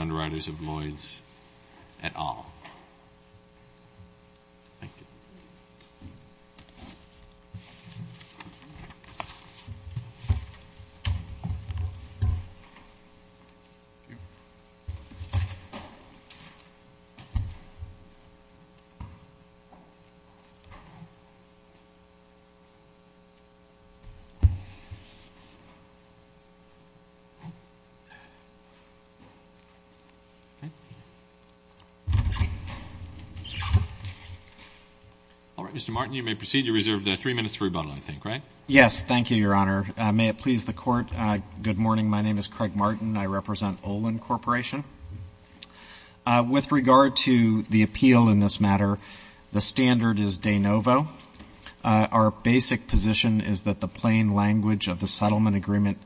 Underwriters of Lloyds, et al. Mr. Martin, you may proceed. You reserved three minutes for rebuttal, I think, right? Yes, thank you, Your Honor. May it please the Court, good morning. My name is Craig Martin. I represent Olin Corporation. With regard to the appeal in this matter, the standard is de novo. Our basic position is that the plain language of the settlement agreement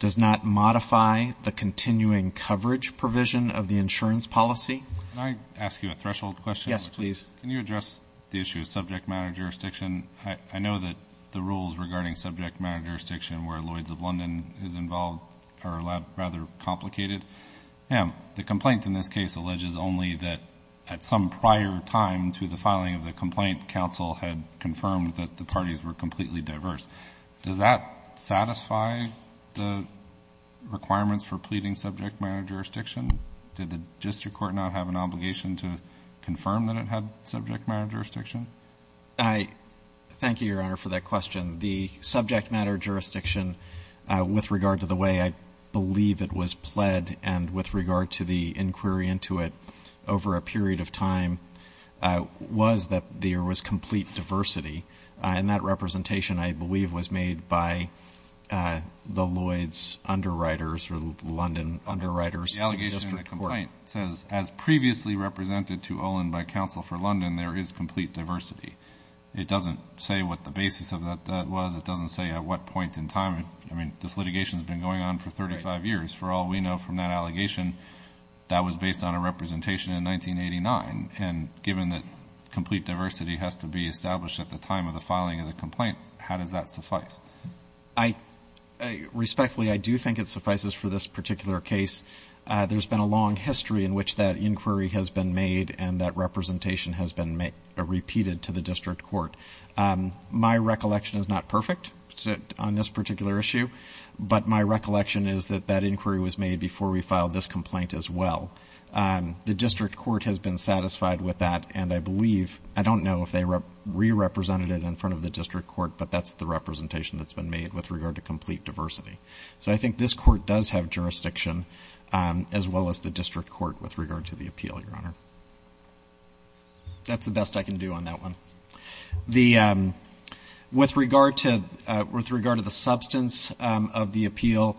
does not modify the continuing coverage provision of the insurance policy. Can I ask you a threshold question? Yes, please. Can you address the issue of subject matter jurisdiction? I know that the rules regarding subject matter jurisdiction where Lloyds of London is involved are rather complicated. The complaint in this case alleges only that at some prior time to the filing of the complaint, counsel had confirmed that the parties were completely diverse. Does that satisfy the requirements for pleading subject matter jurisdiction? Did the district court not have an obligation to confirm that it had subject matter jurisdiction? Thank you, Your Honor, for that question. The subject matter jurisdiction, with regard to the way I believe it was pled, and with regard to the inquiry into it over a period of time, was that there was complete diversity. And that representation, I believe, was made by the Lloyds underwriters or London underwriters to the district court. The complaint says, as previously represented to Olin by counsel for London, there is complete diversity. It doesn't say what the basis of that was. It doesn't say at what point in time. I mean, this litigation has been going on for 35 years. For all we know from that allegation, that was based on a representation in 1989. And given that complete diversity has to be established at the time of the filing of the complaint, how does that suffice? Respectfully, I do think it suffices for this particular case. There's been a long history in which that inquiry has been made and that representation has been repeated to the district court. My recollection is not perfect on this particular issue, but my recollection is that that inquiry was made before we filed this complaint as well. The district court has been satisfied with that, and I believe, I don't know if they re-represented it in front of the district court, but that's the representation that's been made with regard to complete diversity. So I think this court does have jurisdiction as well as the district court with regard to the appeal, Your Honor. That's the best I can do on that one. With regard to the substance of the appeal,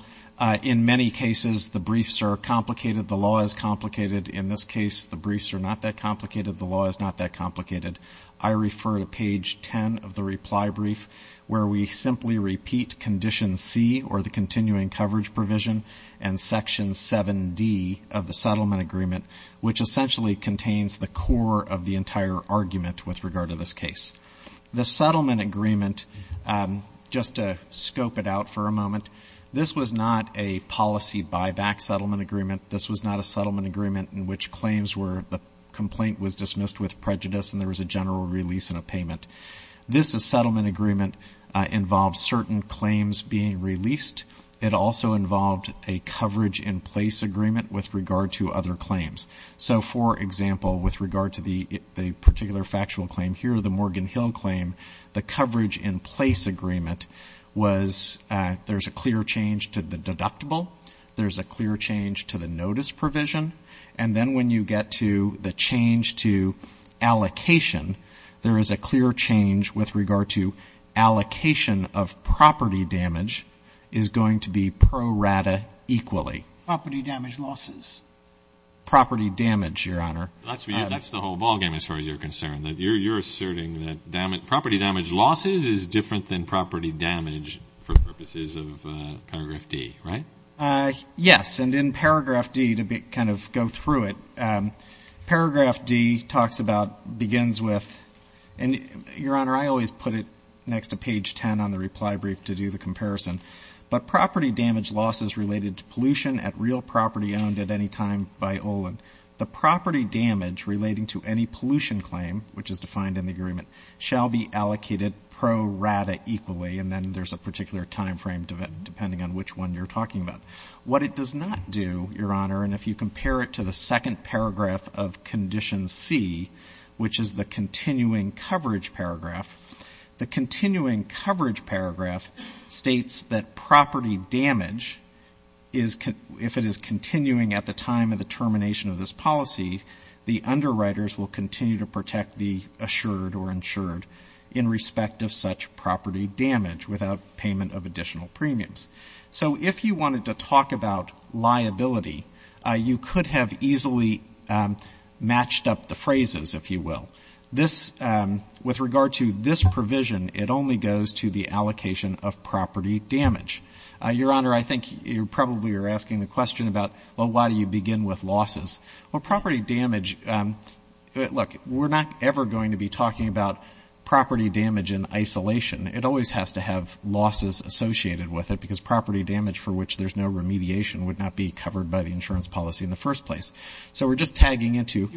in many cases the briefs are complicated, the law is complicated. In this case, the briefs are not that complicated, the law is not that complicated. I refer to page 10 of the reply brief where we simply repeat condition C, or the continuing coverage provision, and section 7D of the settlement agreement, which essentially contains the core of the entire argument with regard to this case. The settlement agreement, just to scope it out for a moment, this was not a policy buyback settlement agreement. This was not a settlement agreement in which claims were the complaint was dismissed with prejudice and there was a general release and a payment. This settlement agreement involves certain claims being released. It also involved a coverage in place agreement with regard to other claims. So, for example, with regard to the particular factual claim here, the Morgan Hill claim, the coverage in place agreement was there's a clear change to the deductible, there's a clear change to the notice provision, and then when you get to the change to allocation, there is a clear change with regard to allocation of property damage is going to be pro rata equally. Property damage losses. Property damage, Your Honor. That's the whole ballgame as far as you're concerned. You're asserting that property damage losses is different than property damage for purposes of Paragraph D, right? Yes, and in Paragraph D, to kind of go through it, Paragraph D talks about, begins with, and Your Honor, I always put it next to page 10 on the reply brief to do the comparison, but property damage losses related to pollution at real property owned at any time by Olin. The property damage relating to any pollution claim, which is defined in the agreement, shall be allocated pro rata equally, and then there's a particular time frame depending on which one you're talking about. What it does not do, Your Honor, and if you compare it to the second paragraph of Condition C, which is the continuing coverage paragraph, the continuing coverage paragraph states that property damage, if it is continuing at the time of the termination of this policy, the underwriters will continue to protect the assured or insured in respect of such property damage without payment of additional premiums. So if you wanted to talk about liability, you could have easily matched up the phrases, if you will. With regard to this provision, it only goes to the allocation of property damage. Your Honor, I think you probably are asking the question about, well, why do you begin with losses? Well, property damage, look, we're not ever going to be talking about property damage in isolation. It always has to have losses associated with it because property damage for which there's no remediation would not be covered by the insurance policy in the first place. So we're just tagging into you.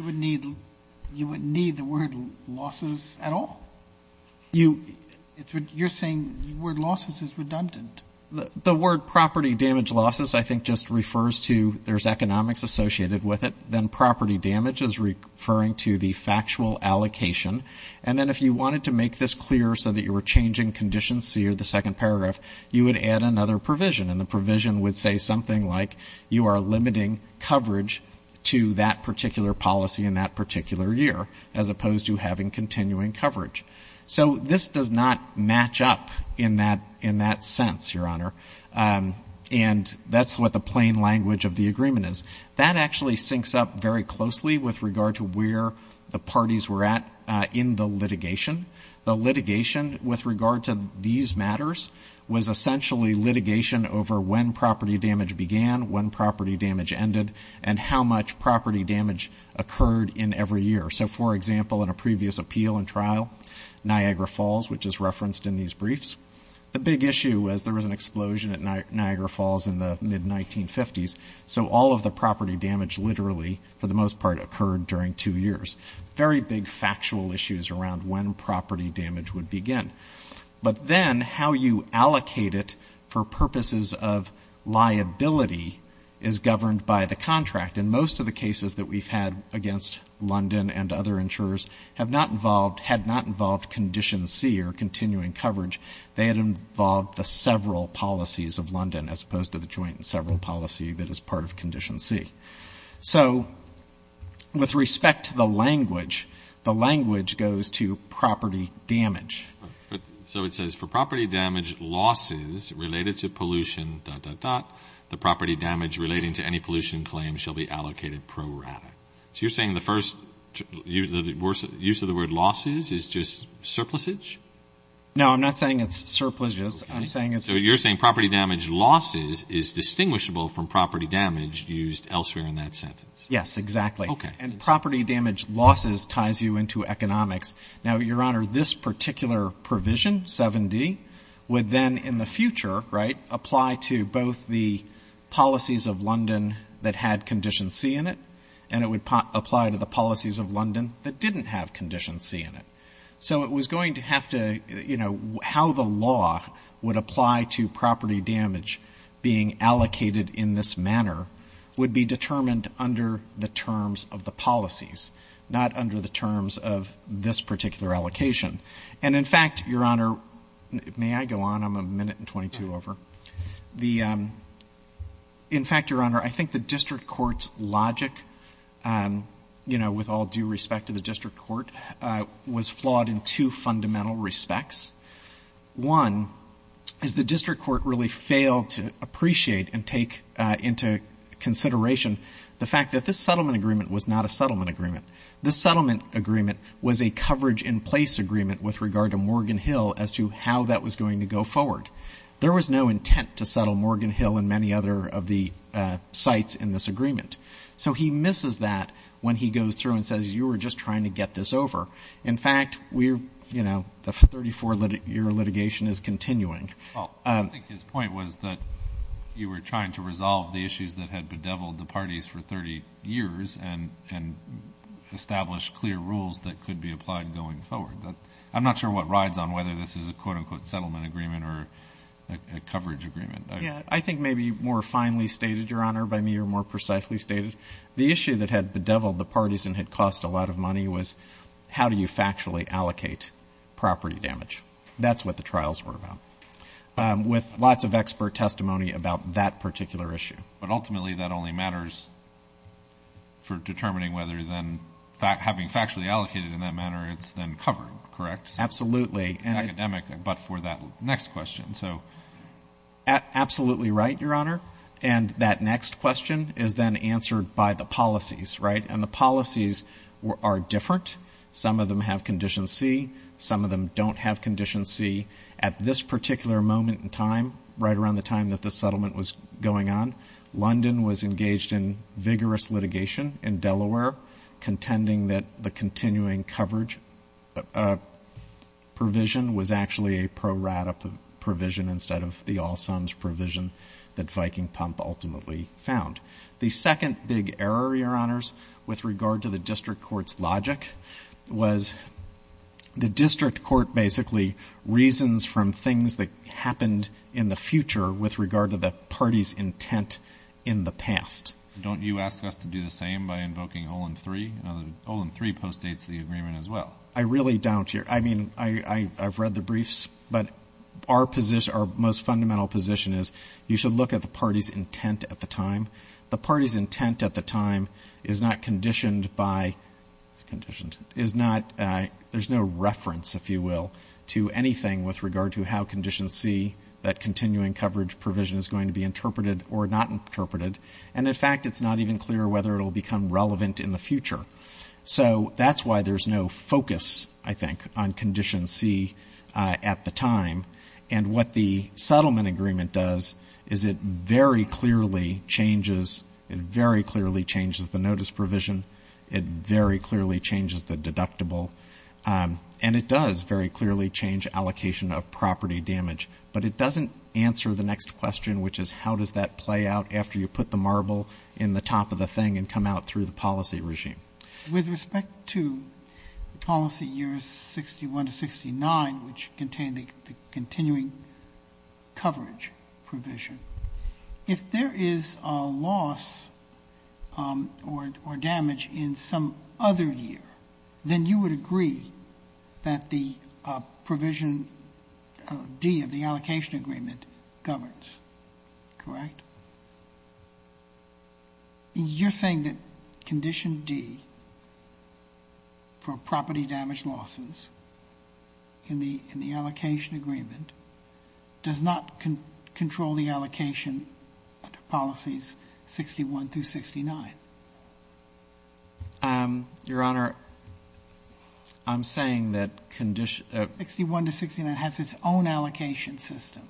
You wouldn't need the word losses at all? You're saying the word losses is redundant. The word property damage losses I think just refers to there's economics associated with it. Then property damage is referring to the factual allocation. And then if you wanted to make this clearer so that you were changing Condition C or the second paragraph, you would add another provision, and the provision would say something like you are limiting coverage to that particular policy in that particular year as opposed to having continuing coverage. So this does not match up in that sense, Your Honor. And that's what the plain language of the agreement is. That actually syncs up very closely with regard to where the parties were at in the litigation. The litigation with regard to these matters was essentially litigation over when property damage began, when property damage ended, and how much property damage occurred in every year. So, for example, in a previous appeal and trial, Niagara Falls, which is referenced in these briefs, the big issue was there was an explosion at Niagara Falls in the mid-1950s, so all of the property damage literally for the most part occurred during two years. Very big factual issues around when property damage would begin. But then how you allocate it for purposes of liability is governed by the contract. And most of the cases that we've had against London and other insurers have not involved, had not involved Condition C or continuing coverage. They had involved the several policies of London as opposed to the joint and several policy that is part of Condition C. So with respect to the language, the language goes to property damage. So it says, for property damage losses related to pollution, dot, dot, dot, the property damage relating to any pollution claim shall be allocated pro rata. So you're saying the first use of the word losses is just surplusage? No, I'm not saying it's surpluses. I'm saying it's... So you're saying property damage losses is distinguishable from property damage used elsewhere in that sentence. Yes, exactly. Okay. And property damage losses ties you into economics. Now, Your Honor, this particular provision, 7D, would then in the future, right, apply to both the policies of London that had Condition C in it, and it would apply to the policies of London that didn't have Condition C in it. So it was going to have to, you know, how the law would apply to property damage being allocated in this manner would be determined under the terms of the policies, not under the terms of this particular allocation. And, in fact, Your Honor, may I go on? I'm a minute and 22 over. In fact, Your Honor, I think the district court's logic, you know, with all due respect to the district court, was flawed in two fundamental respects. One is the district court really failed to appreciate and take into consideration the fact that this settlement agreement was not a settlement agreement. This settlement agreement was a coverage-in-place agreement with regard to Morgan Hill as to how that was going to go forward. There was no intent to settle Morgan Hill and many other of the sites in this agreement. So he misses that when he goes through and says you were just trying to get this over. In fact, we're, you know, the 34-year litigation is continuing. Well, I think his point was that you were trying to resolve the issues that had bedeviled the parties for 30 years and established clear rules that could be applied going forward. I'm not sure what rides on whether this is a quote-unquote settlement agreement or a coverage agreement. Yeah. I think maybe more finely stated, Your Honor, by me, or more precisely stated, the issue that had bedeviled the parties and had cost a lot of money was how do you factually allocate property damage. That's what the trials were about, with lots of expert testimony about that particular issue. But ultimately, that only matters for determining whether then having factually allocated in that manner, it's then covered, correct? Absolutely. It's academic, but for that next question. Absolutely right, Your Honor. And that next question is then answered by the policies, right? And the policies are different. Some of them have Condition C. Some of them don't have Condition C. At this particular moment in time, right around the time that the settlement was going on, London was engaged in vigorous litigation in Delaware, contending that the continuing coverage provision was actually a pro-rata provision instead of the all-sums provision that Viking Pump ultimately found. The second big error, Your Honors, with regard to the district court's logic, was the district court basically reasons from things that happened in the future with regard to the party's intent in the past. Don't you ask us to do the same by invoking Olin III? Olin III postdates the agreement as well. I really don't. I mean, I've read the briefs. But our most fundamental position is you should look at the party's intent at the time. The party's intent at the time is not conditioned by... There's no reference, if you will, to anything with regard to how Condition C, that continuing coverage provision, is going to be interpreted or not interpreted. And in fact, it's not even clear whether it will become relevant in the future. So that's why there's no focus, I think, on Condition C at the time. And what the settlement agreement does is it very clearly changes the notice provision. It very clearly changes the deductible. And it does very clearly change allocation of property damage. But it doesn't answer the next question, which is how does that play out after you put the marble in the top of the thing and come out through the policy regime. With respect to policy years 61 to 69, which contain the continuing coverage provision, if there is a loss or damage in some other year, then you would agree that the provision D of the allocation agreement governs, correct? You're saying that Condition D for property damage losses in the allocation agreement does not control the allocation policies 61 through 69? Your Honor, I'm saying that Condition... 61 to 69 has its own allocation system.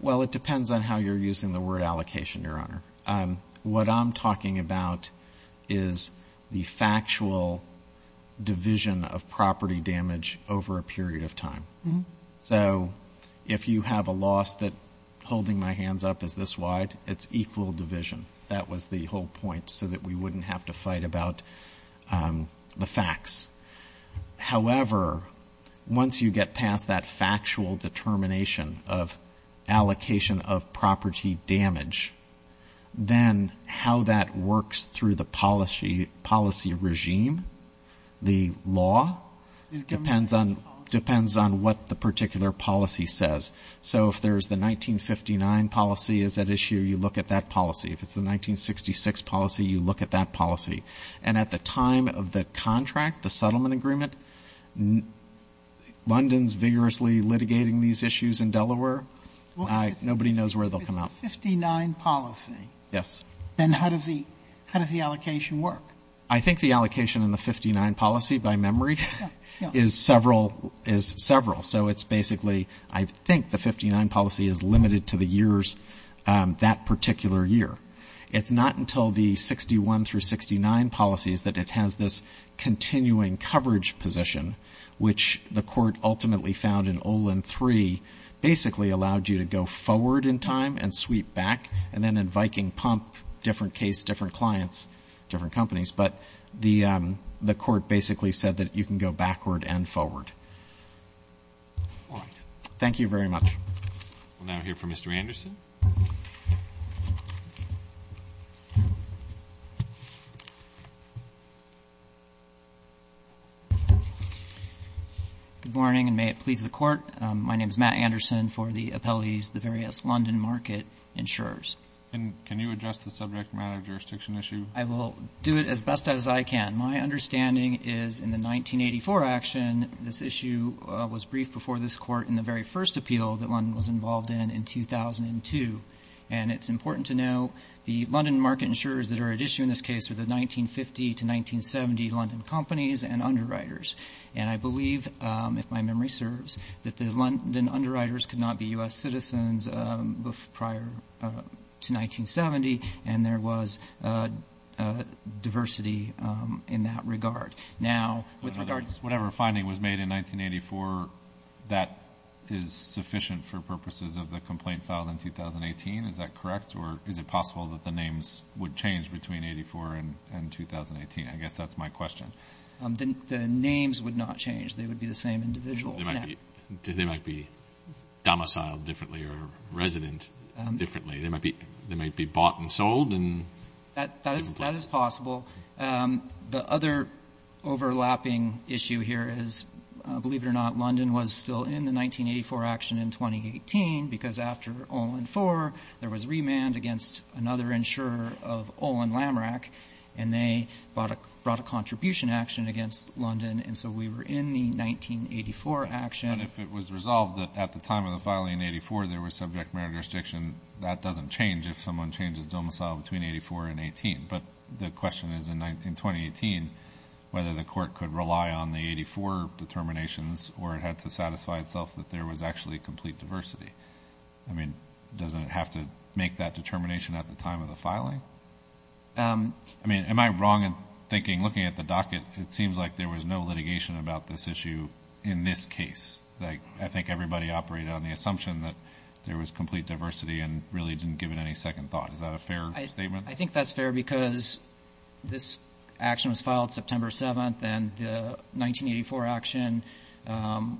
Well, it depends on how you're using the word allocation, Your Honor. What I'm talking about is the factual division of property damage over a period of time. So if you have a loss that holding my hands up is this wide, it's equal division. That was the whole point, so that we wouldn't have to fight about the facts. However, once you get past that factual determination of allocation of property damage, then how that works through the policy regime, the law, depends on what the particular policy says. So if there's the 1959 policy is at issue, you look at that policy. If it's the 1966 policy, you look at that policy. And at the time of the contract, the settlement agreement, London's vigorously litigating these issues in Delaware. Nobody knows where they'll come out. It's the 59 policy. Then how does the allocation work? I think the allocation in the 59 policy, by memory, is several. So it's basically I think the 59 policy is limited to the years that particular year. It's not until the 61 through 69 policies that it has this continuing coverage position, which the court ultimately found in Olin 3 basically allowed you to go forward in time and sweep back So it's not just a case of taking pump, different case, different clients, different companies. But the court basically said that you can go backward and forward. All right. Thank you very much. We'll now hear from Mr. Anderson. Good morning, and may it please the court. My name is Matt Anderson for the appellees, the various London market insurers. And can you address the subject matter jurisdiction issue? I will do it as best as I can. My understanding is in the 1984 action, this issue was briefed before this court in the very first appeal that London was involved in, in 2002. And it's important to know the London market insurers that are at issue in this case are the 1950 to 1970 London companies and underwriters. And I believe, if my memory serves, that the London underwriters could not be U.S. citizens prior to 1970. And there was diversity in that regard. Now, with regard to whatever finding was made in 1984, that is sufficient for purposes of the complaint filed in 2018, is that correct? Or is it possible that the names would change between 84 and 2018? I guess that's my question. The names would not change. They would be the same individuals. They might be domiciled differently or resident differently. They might be bought and sold in different places. That is possible. The other overlapping issue here is, believe it or not, London was still in the 1984 action in 2018, because after Olin 4, there was remand against another insurer of Olin Lammarack, and they brought a contribution action against London. And so we were in the 1984 action. But if it was resolved that at the time of the filing in 84, there was subject matter restriction, that doesn't change if someone changes domicile between 84 and 18. But the question is, in 2018, whether the court could rely on the 84 determinations or it had to satisfy itself that there was actually complete diversity. I mean, doesn't it have to make that determination at the time of the filing? I mean, am I wrong in thinking, looking at the docket, it seems like there was no litigation about this issue in this case. I think everybody operated on the assumption that there was complete diversity and really didn't give it any second thought. Is that a fair statement? I think that's fair, because this action was filed September 7, and the 1984 action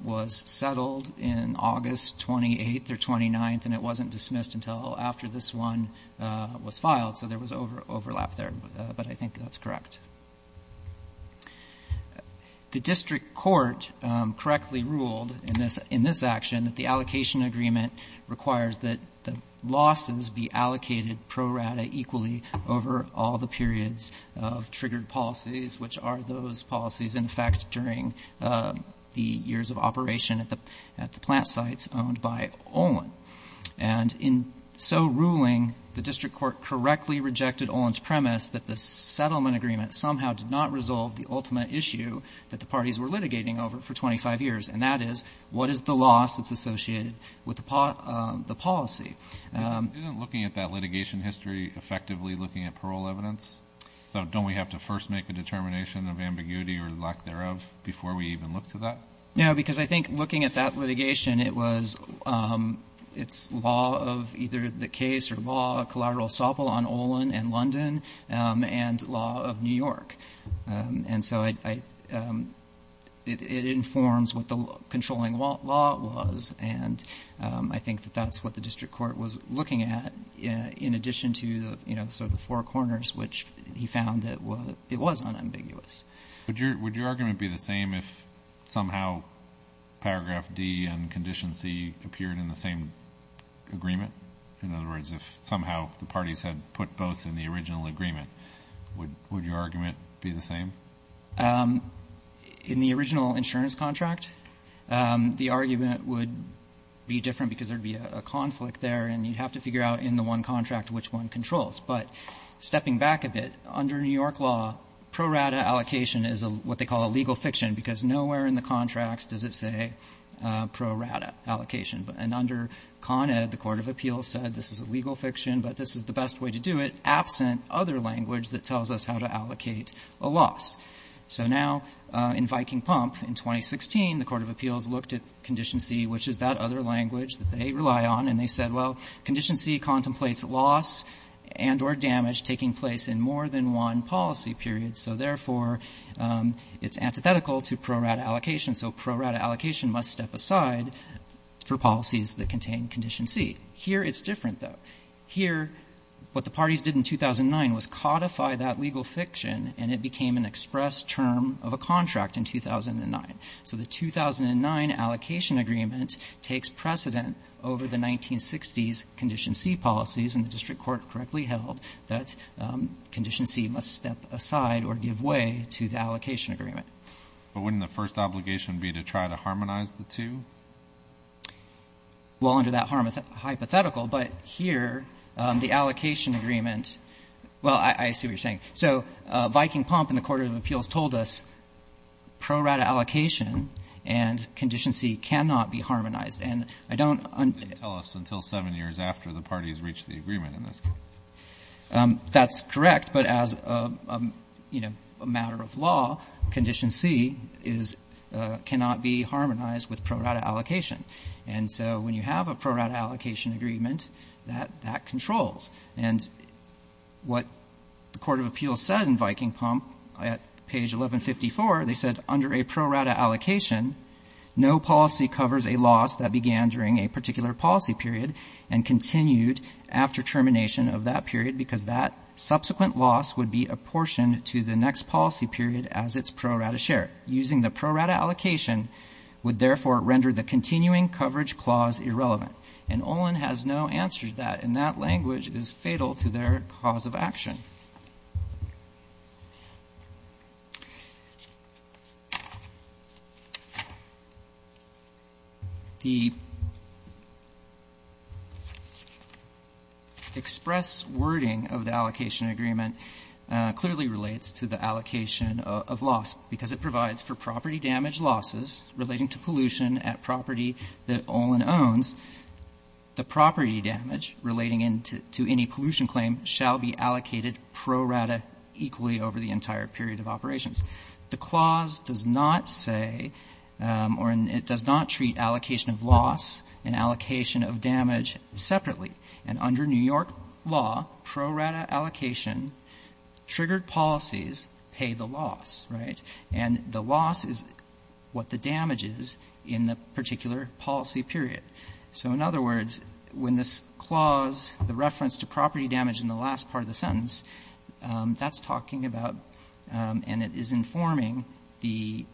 was settled in August 28 or 29, and it wasn't dismissed until after this one was filed. So there was overlap there, but I think that's correct. The district court correctly ruled in this action that the allocation agreement requires that the losses be allocated pro rata equally over all the periods of triggered policies, which are those policies in effect during the years of operation at the plant sites owned by Olin. And in so ruling, the district court correctly rejected Olin's premise that the settlement agreement somehow did not resolve the ultimate issue that the parties were litigating over for 25 years, and that is, what is the loss that's associated with the policy? Isn't looking at that litigation history effectively looking at parole evidence? So don't we have to first make a determination of ambiguity or lack thereof before we even look to that? No, because I think looking at that litigation, it's law of either the case or law of collateral assault on Olin and London and law of New York. And so it informs what the controlling law was, and I think that that's what the district court was looking at in addition to the four corners, which he found that it was unambiguous. Would your argument be the same if somehow paragraph D and condition C appeared in the same agreement? In other words, if somehow the parties had put both in the original agreement, would your argument be the same? In the original insurance contract, the argument would be different because there would be a conflict there, and you'd have to figure out in the one contract which one controls. But stepping back a bit, under New York law, pro rata allocation is what they call a legal fiction, because nowhere in the contracts does it say pro rata allocation. And under Con Ed, the Court of Appeals said this is a legal fiction, but this is the best way to do it, absent other language that tells us how to allocate a loss. So now in Viking Pump, in 2016, the Court of Appeals looked at condition C, which is that other language that they rely on, and they said, well, condition C contemplates loss, and or damage taking place in more than one policy period, so therefore it's antithetical to pro rata allocation. So pro rata allocation must step aside for policies that contain condition C. Here it's different, though. Here, what the parties did in 2009 was codify that legal fiction, and it became an express term of a contract in 2009. So the 2009 allocation agreement takes precedent over the 1960s condition C policies, and the district court correctly held that condition C must step aside or give way to the allocation agreement. But wouldn't the first obligation be to try to harmonize the two? Well, under that hypothetical, but here, the allocation agreement, well, I see what you're saying. So Viking Pump and the Court of Appeals told us pro rata allocation and condition C cannot be harmonized, and I don't tell us until seven years after the parties reached the agreement in this case. That's correct, but as a matter of law, condition C cannot be harmonized with pro rata allocation. And so when you have a pro rata allocation agreement, that controls. And what the Court of Appeals said in Viking Pump at page 1154, they said under a pro rata allocation, no policy covers a loss that began during a particular policy period and continued after termination of that period, because that subsequent loss would be apportioned to the next policy period as its pro rata share. Using the pro rata allocation would therefore render the continuing coverage clause irrelevant. And Olin has no answer to that, and that language is fatal to their cause of action. The express wording of the allocation agreement clearly relates to the allocation of loss, because it provides for property damage losses relating to pollution at property that Olin owns. The property damage relating to any pollution claim shall be allocated pro rata equally over the entire period of operations. The clause does not say, or it does not treat allocation of loss and allocation of damage separately. And under New York law, pro rata allocation triggered policies pay the loss, right? And the loss is what the damage is in the particular policy period. So in other words, when this clause, the reference to property damage in the last part of the sentence, that's talking about, and it is informing, the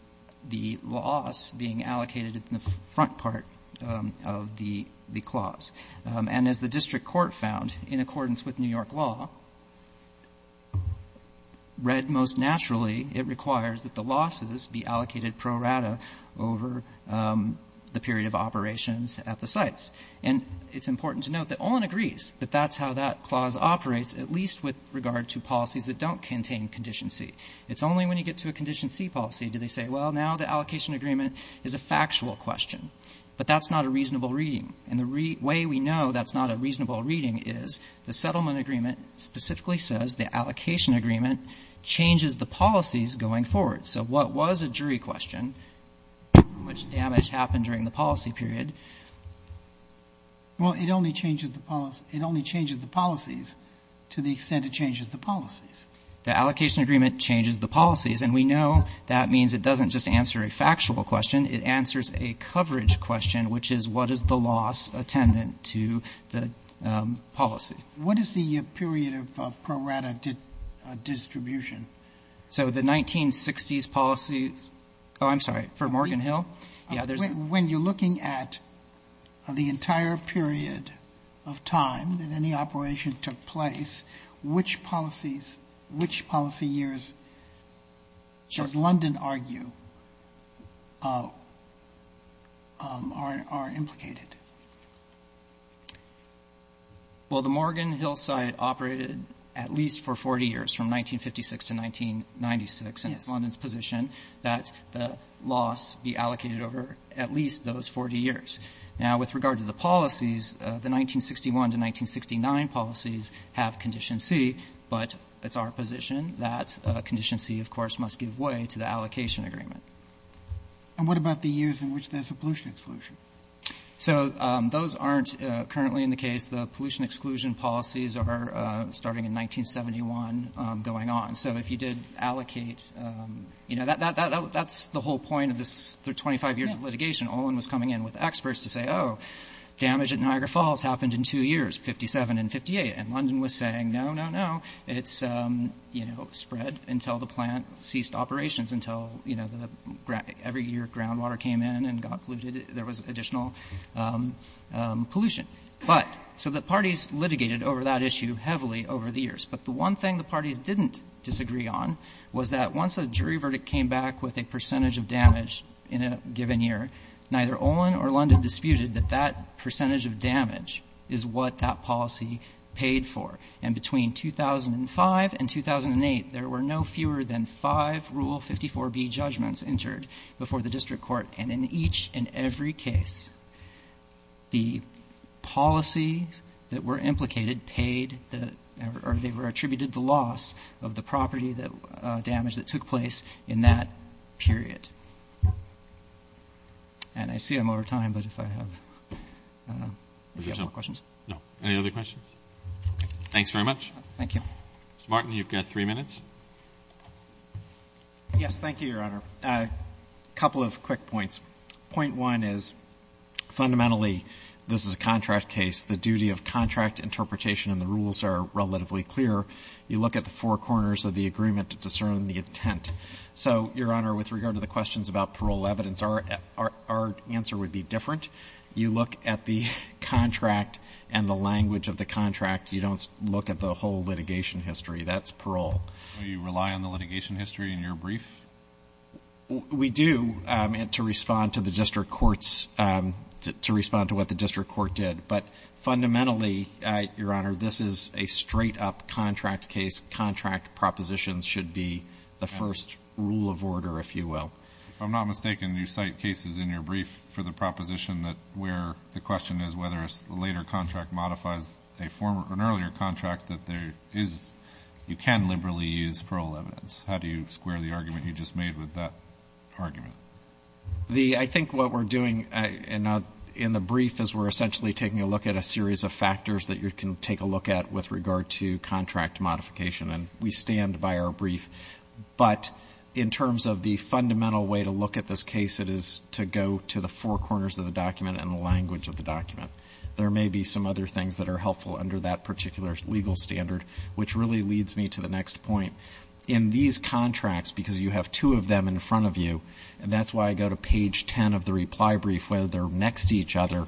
loss being allocated in the front part of the clause. And as the district court found, in accordance with New York law, read most naturally, it requires that the losses be allocated pro rata over the period of operations at the end of the policy period. And it's important to note that Olin agrees that that's how that clause operates, at least with regard to policies that don't contain Condition C. It's only when you get to a Condition C policy do they say, well, now the allocation agreement is a factual question, but that's not a reasonable reading. And the way we know that's not a reasonable reading is the settlement agreement specifically says the allocation agreement changes the policies going forward. So what was a jury question, which damage happened during the policy period, was a jury question. Well, it only changes the policy, it only changes the policies to the extent it changes the policies. The allocation agreement changes the policies, and we know that means it doesn't just answer a factual question, it answers a coverage question, which is what is the loss attendant to the policy. What is the period of pro rata distribution? So the 1960s policy, oh, I'm sorry, for Morgan Hill? When you're looking at the entire period of time that any operation took place, which policies, which policy years does London argue are implicated? Well, the Morgan Hill side operated at least for 40 years, from 1956 to 1996, and it's London's position that the loss, the allocation agreement, is implicated over at least those 40 years. Now, with regard to the policies, the 1961 to 1969 policies have Condition C, but it's our position that Condition C, of course, must give way to the allocation agreement. And what about the years in which there's a pollution exclusion? So those aren't currently in the case. The pollution exclusion policies are starting in 1971 going on, so if you did allocate, you know, that's the whole point of this 25 years of litigation. Olin was coming in with experts to say, oh, damage at Niagara Falls happened in two years, 57 and 58, and London was saying, no, no, no, it's spread until the plant ceased operations, until every year groundwater came in and got polluted, there was additional pollution. But, so the parties litigated over that issue heavily over the years, but the one thing the parties didn't disagree on was that once a jury verdict came back with a percentage of damage in a given year, neither Olin or London disputed that that percentage of damage is what that policy paid for. And between 2005 and 2008, there were no fewer than five Rule 54B judgments entered before the district court, and in each and every case, the jury verdict came back with a percentage of damage. So the policies that were implicated paid the, or they were attributed the loss of the property damage that took place in that period. And I see I'm over time, but if I have, I don't know, any other questions? No. Any other questions? Thanks very much. Thank you. Mr. Martin, you've got three minutes. Yes, thank you, Your Honor. A couple of quick points. Point one is, fundamentally, this is a contract case. The duty of contract interpretation and the rules are relatively clear. You look at the four corners of the agreement to discern the intent. So, Your Honor, with regard to the questions about parole evidence, our answer would be different. You look at the contract and the language of the contract. You don't look at the whole thing. You look at the rules. And I think that's a good point. And I think that's a good point. And I think that's a good point. We do, and to respond to the district courts, to respond to what the district court did. But fundamentally, Your Honor, this is a straight-up contract case. Contract propositions should be the first rule of order, if you will. If I'm not mistaken, you cite cases in your brief for the proposition that where the question is whether a later contract modifies an earlier contract that there's a new rule of order. You can liberally use parole evidence. How do you square the argument you just made with that argument? I think what we're doing in the brief is we're essentially taking a look at a series of factors that you can take a look at with regard to contract modification. And we stand by our brief. But in terms of the fundamental way to look at this case, it is to go to the four corners of the document and the language of the document. There may be some other things that are helpful under that particular legal standard, which really leads me to the next point. In these contracts, because you have two of them in front of you, and that's why I go to page 10 of the reply brief where they're next to each other,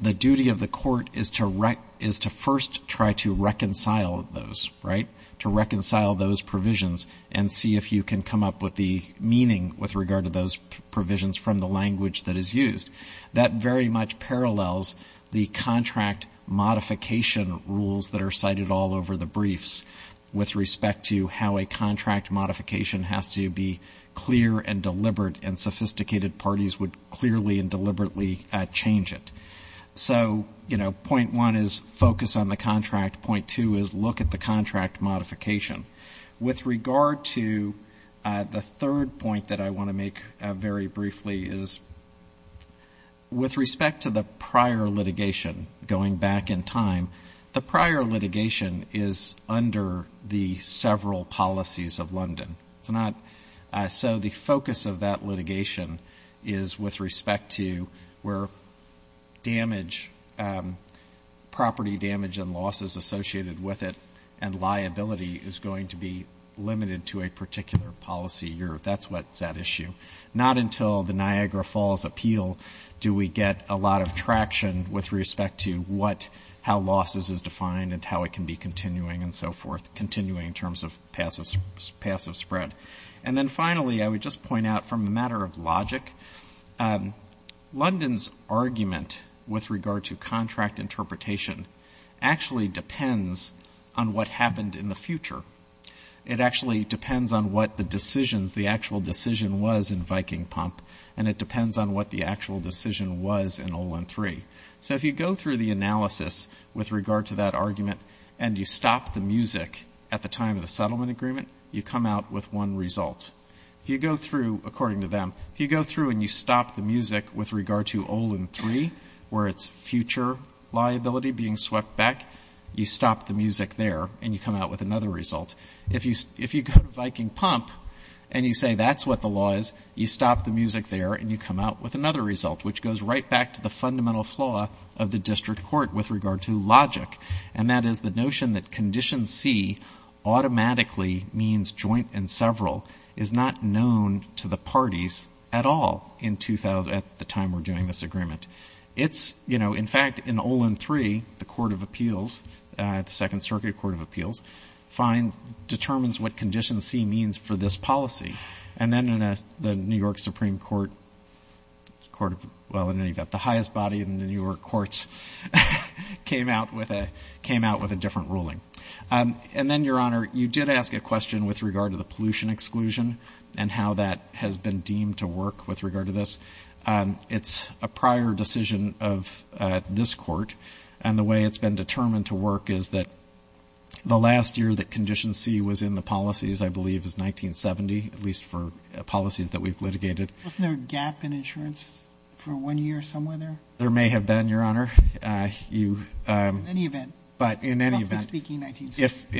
the duty of the court is to first try to reconcile those, right? To reconcile those provisions and see if you can come up with the meaning with regard to those provisions from the language that is used. That very much parallels the contract modification rules that are cited all over the briefs with respect to how a contract modification has to be clear and deliberate, and sophisticated parties would clearly and deliberately change it. So, you know, point one is focus on the contract. Point two is look at the contract modification. With regard to the third point that I want to make very briefly is, you know, I think it's important to look at the contract modification. With respect to the prior litigation, going back in time, the prior litigation is under the several policies of London. So the focus of that litigation is with respect to where damage, property damage and losses associated with it and liability is going to be limited to a particular policy year. That's what's at issue. Not until the Niagara Falls appeal do we get a lot of traction with respect to what, how losses is defined and how it can be continuing and so forth, continuing in terms of passive spread. And then finally, I would just point out from a matter of logic, London's argument with regard to contract interpretation actually depends on what happened in the future. It actually depends on what the decisions, the actual decision was in Viking Pump and it depends on what the actual decision was in Olin 3. So if you go through the analysis with regard to that argument and you stop the music at the time of the settlement agreement, you come out with one result. If you go through, according to them, if you go through and you stop the music with regard to Olin 3, where it's future liability being swept back, you stop the music there and you come out with another result. If you go to Viking Pump and you say that's what the law is, you stop the music there and you come out with another result, which goes right back to the fundamental flaw of the district court with regard to logic. And that is the notion that Condition C automatically means joint and several is not known to the parties at all in 2000, at the time we're doing this agreement. It's, you know, in fact, in Olin 3, the Court of Appeals, the Second Circuit Court of Appeals, finds that it's not known to the parties at all. It determines what Condition C means for this policy. And then the New York Supreme Court, the highest body in the New York courts, came out with a different ruling. And then, Your Honor, you did ask a question with regard to the pollution exclusion and how that has been deemed to work with regard to this. It's a prior decision of this court and the way it's been determined to work is that the last year that Condition C was in effect, it was a prior decision. The last year that Condition C was in the policies, I believe, is 1970, at least for policies that we've litigated. Isn't there a gap in insurance for one year somewhere there? There may have been, Your Honor. In any event, if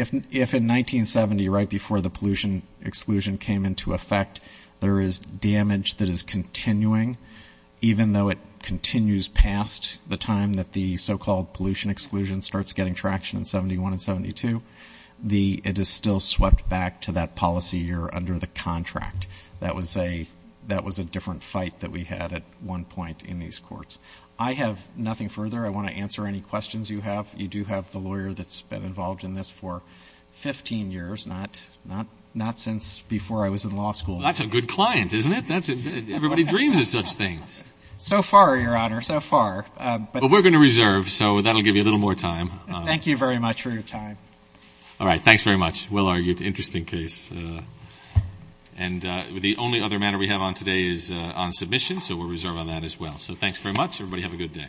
in 1970, right before the pollution exclusion came into effect, there is damage that is continuing, even though it continues past the time that the so-called pollution exclusion starts getting traction in 71 and 72. It's still swept back to that policy year under the contract. That was a different fight that we had at one point in these courts. I have nothing further. I want to answer any questions you have. You do have the lawyer that's been involved in this for 15 years, not since before I was in law school. That's a good client, isn't it? Everybody dreams of such things. So far, Your Honor, so far. We're going to reserve, so that will give you a little more time. Thank you very much for your time. Thanks very much. Everybody have a good day. Thank you.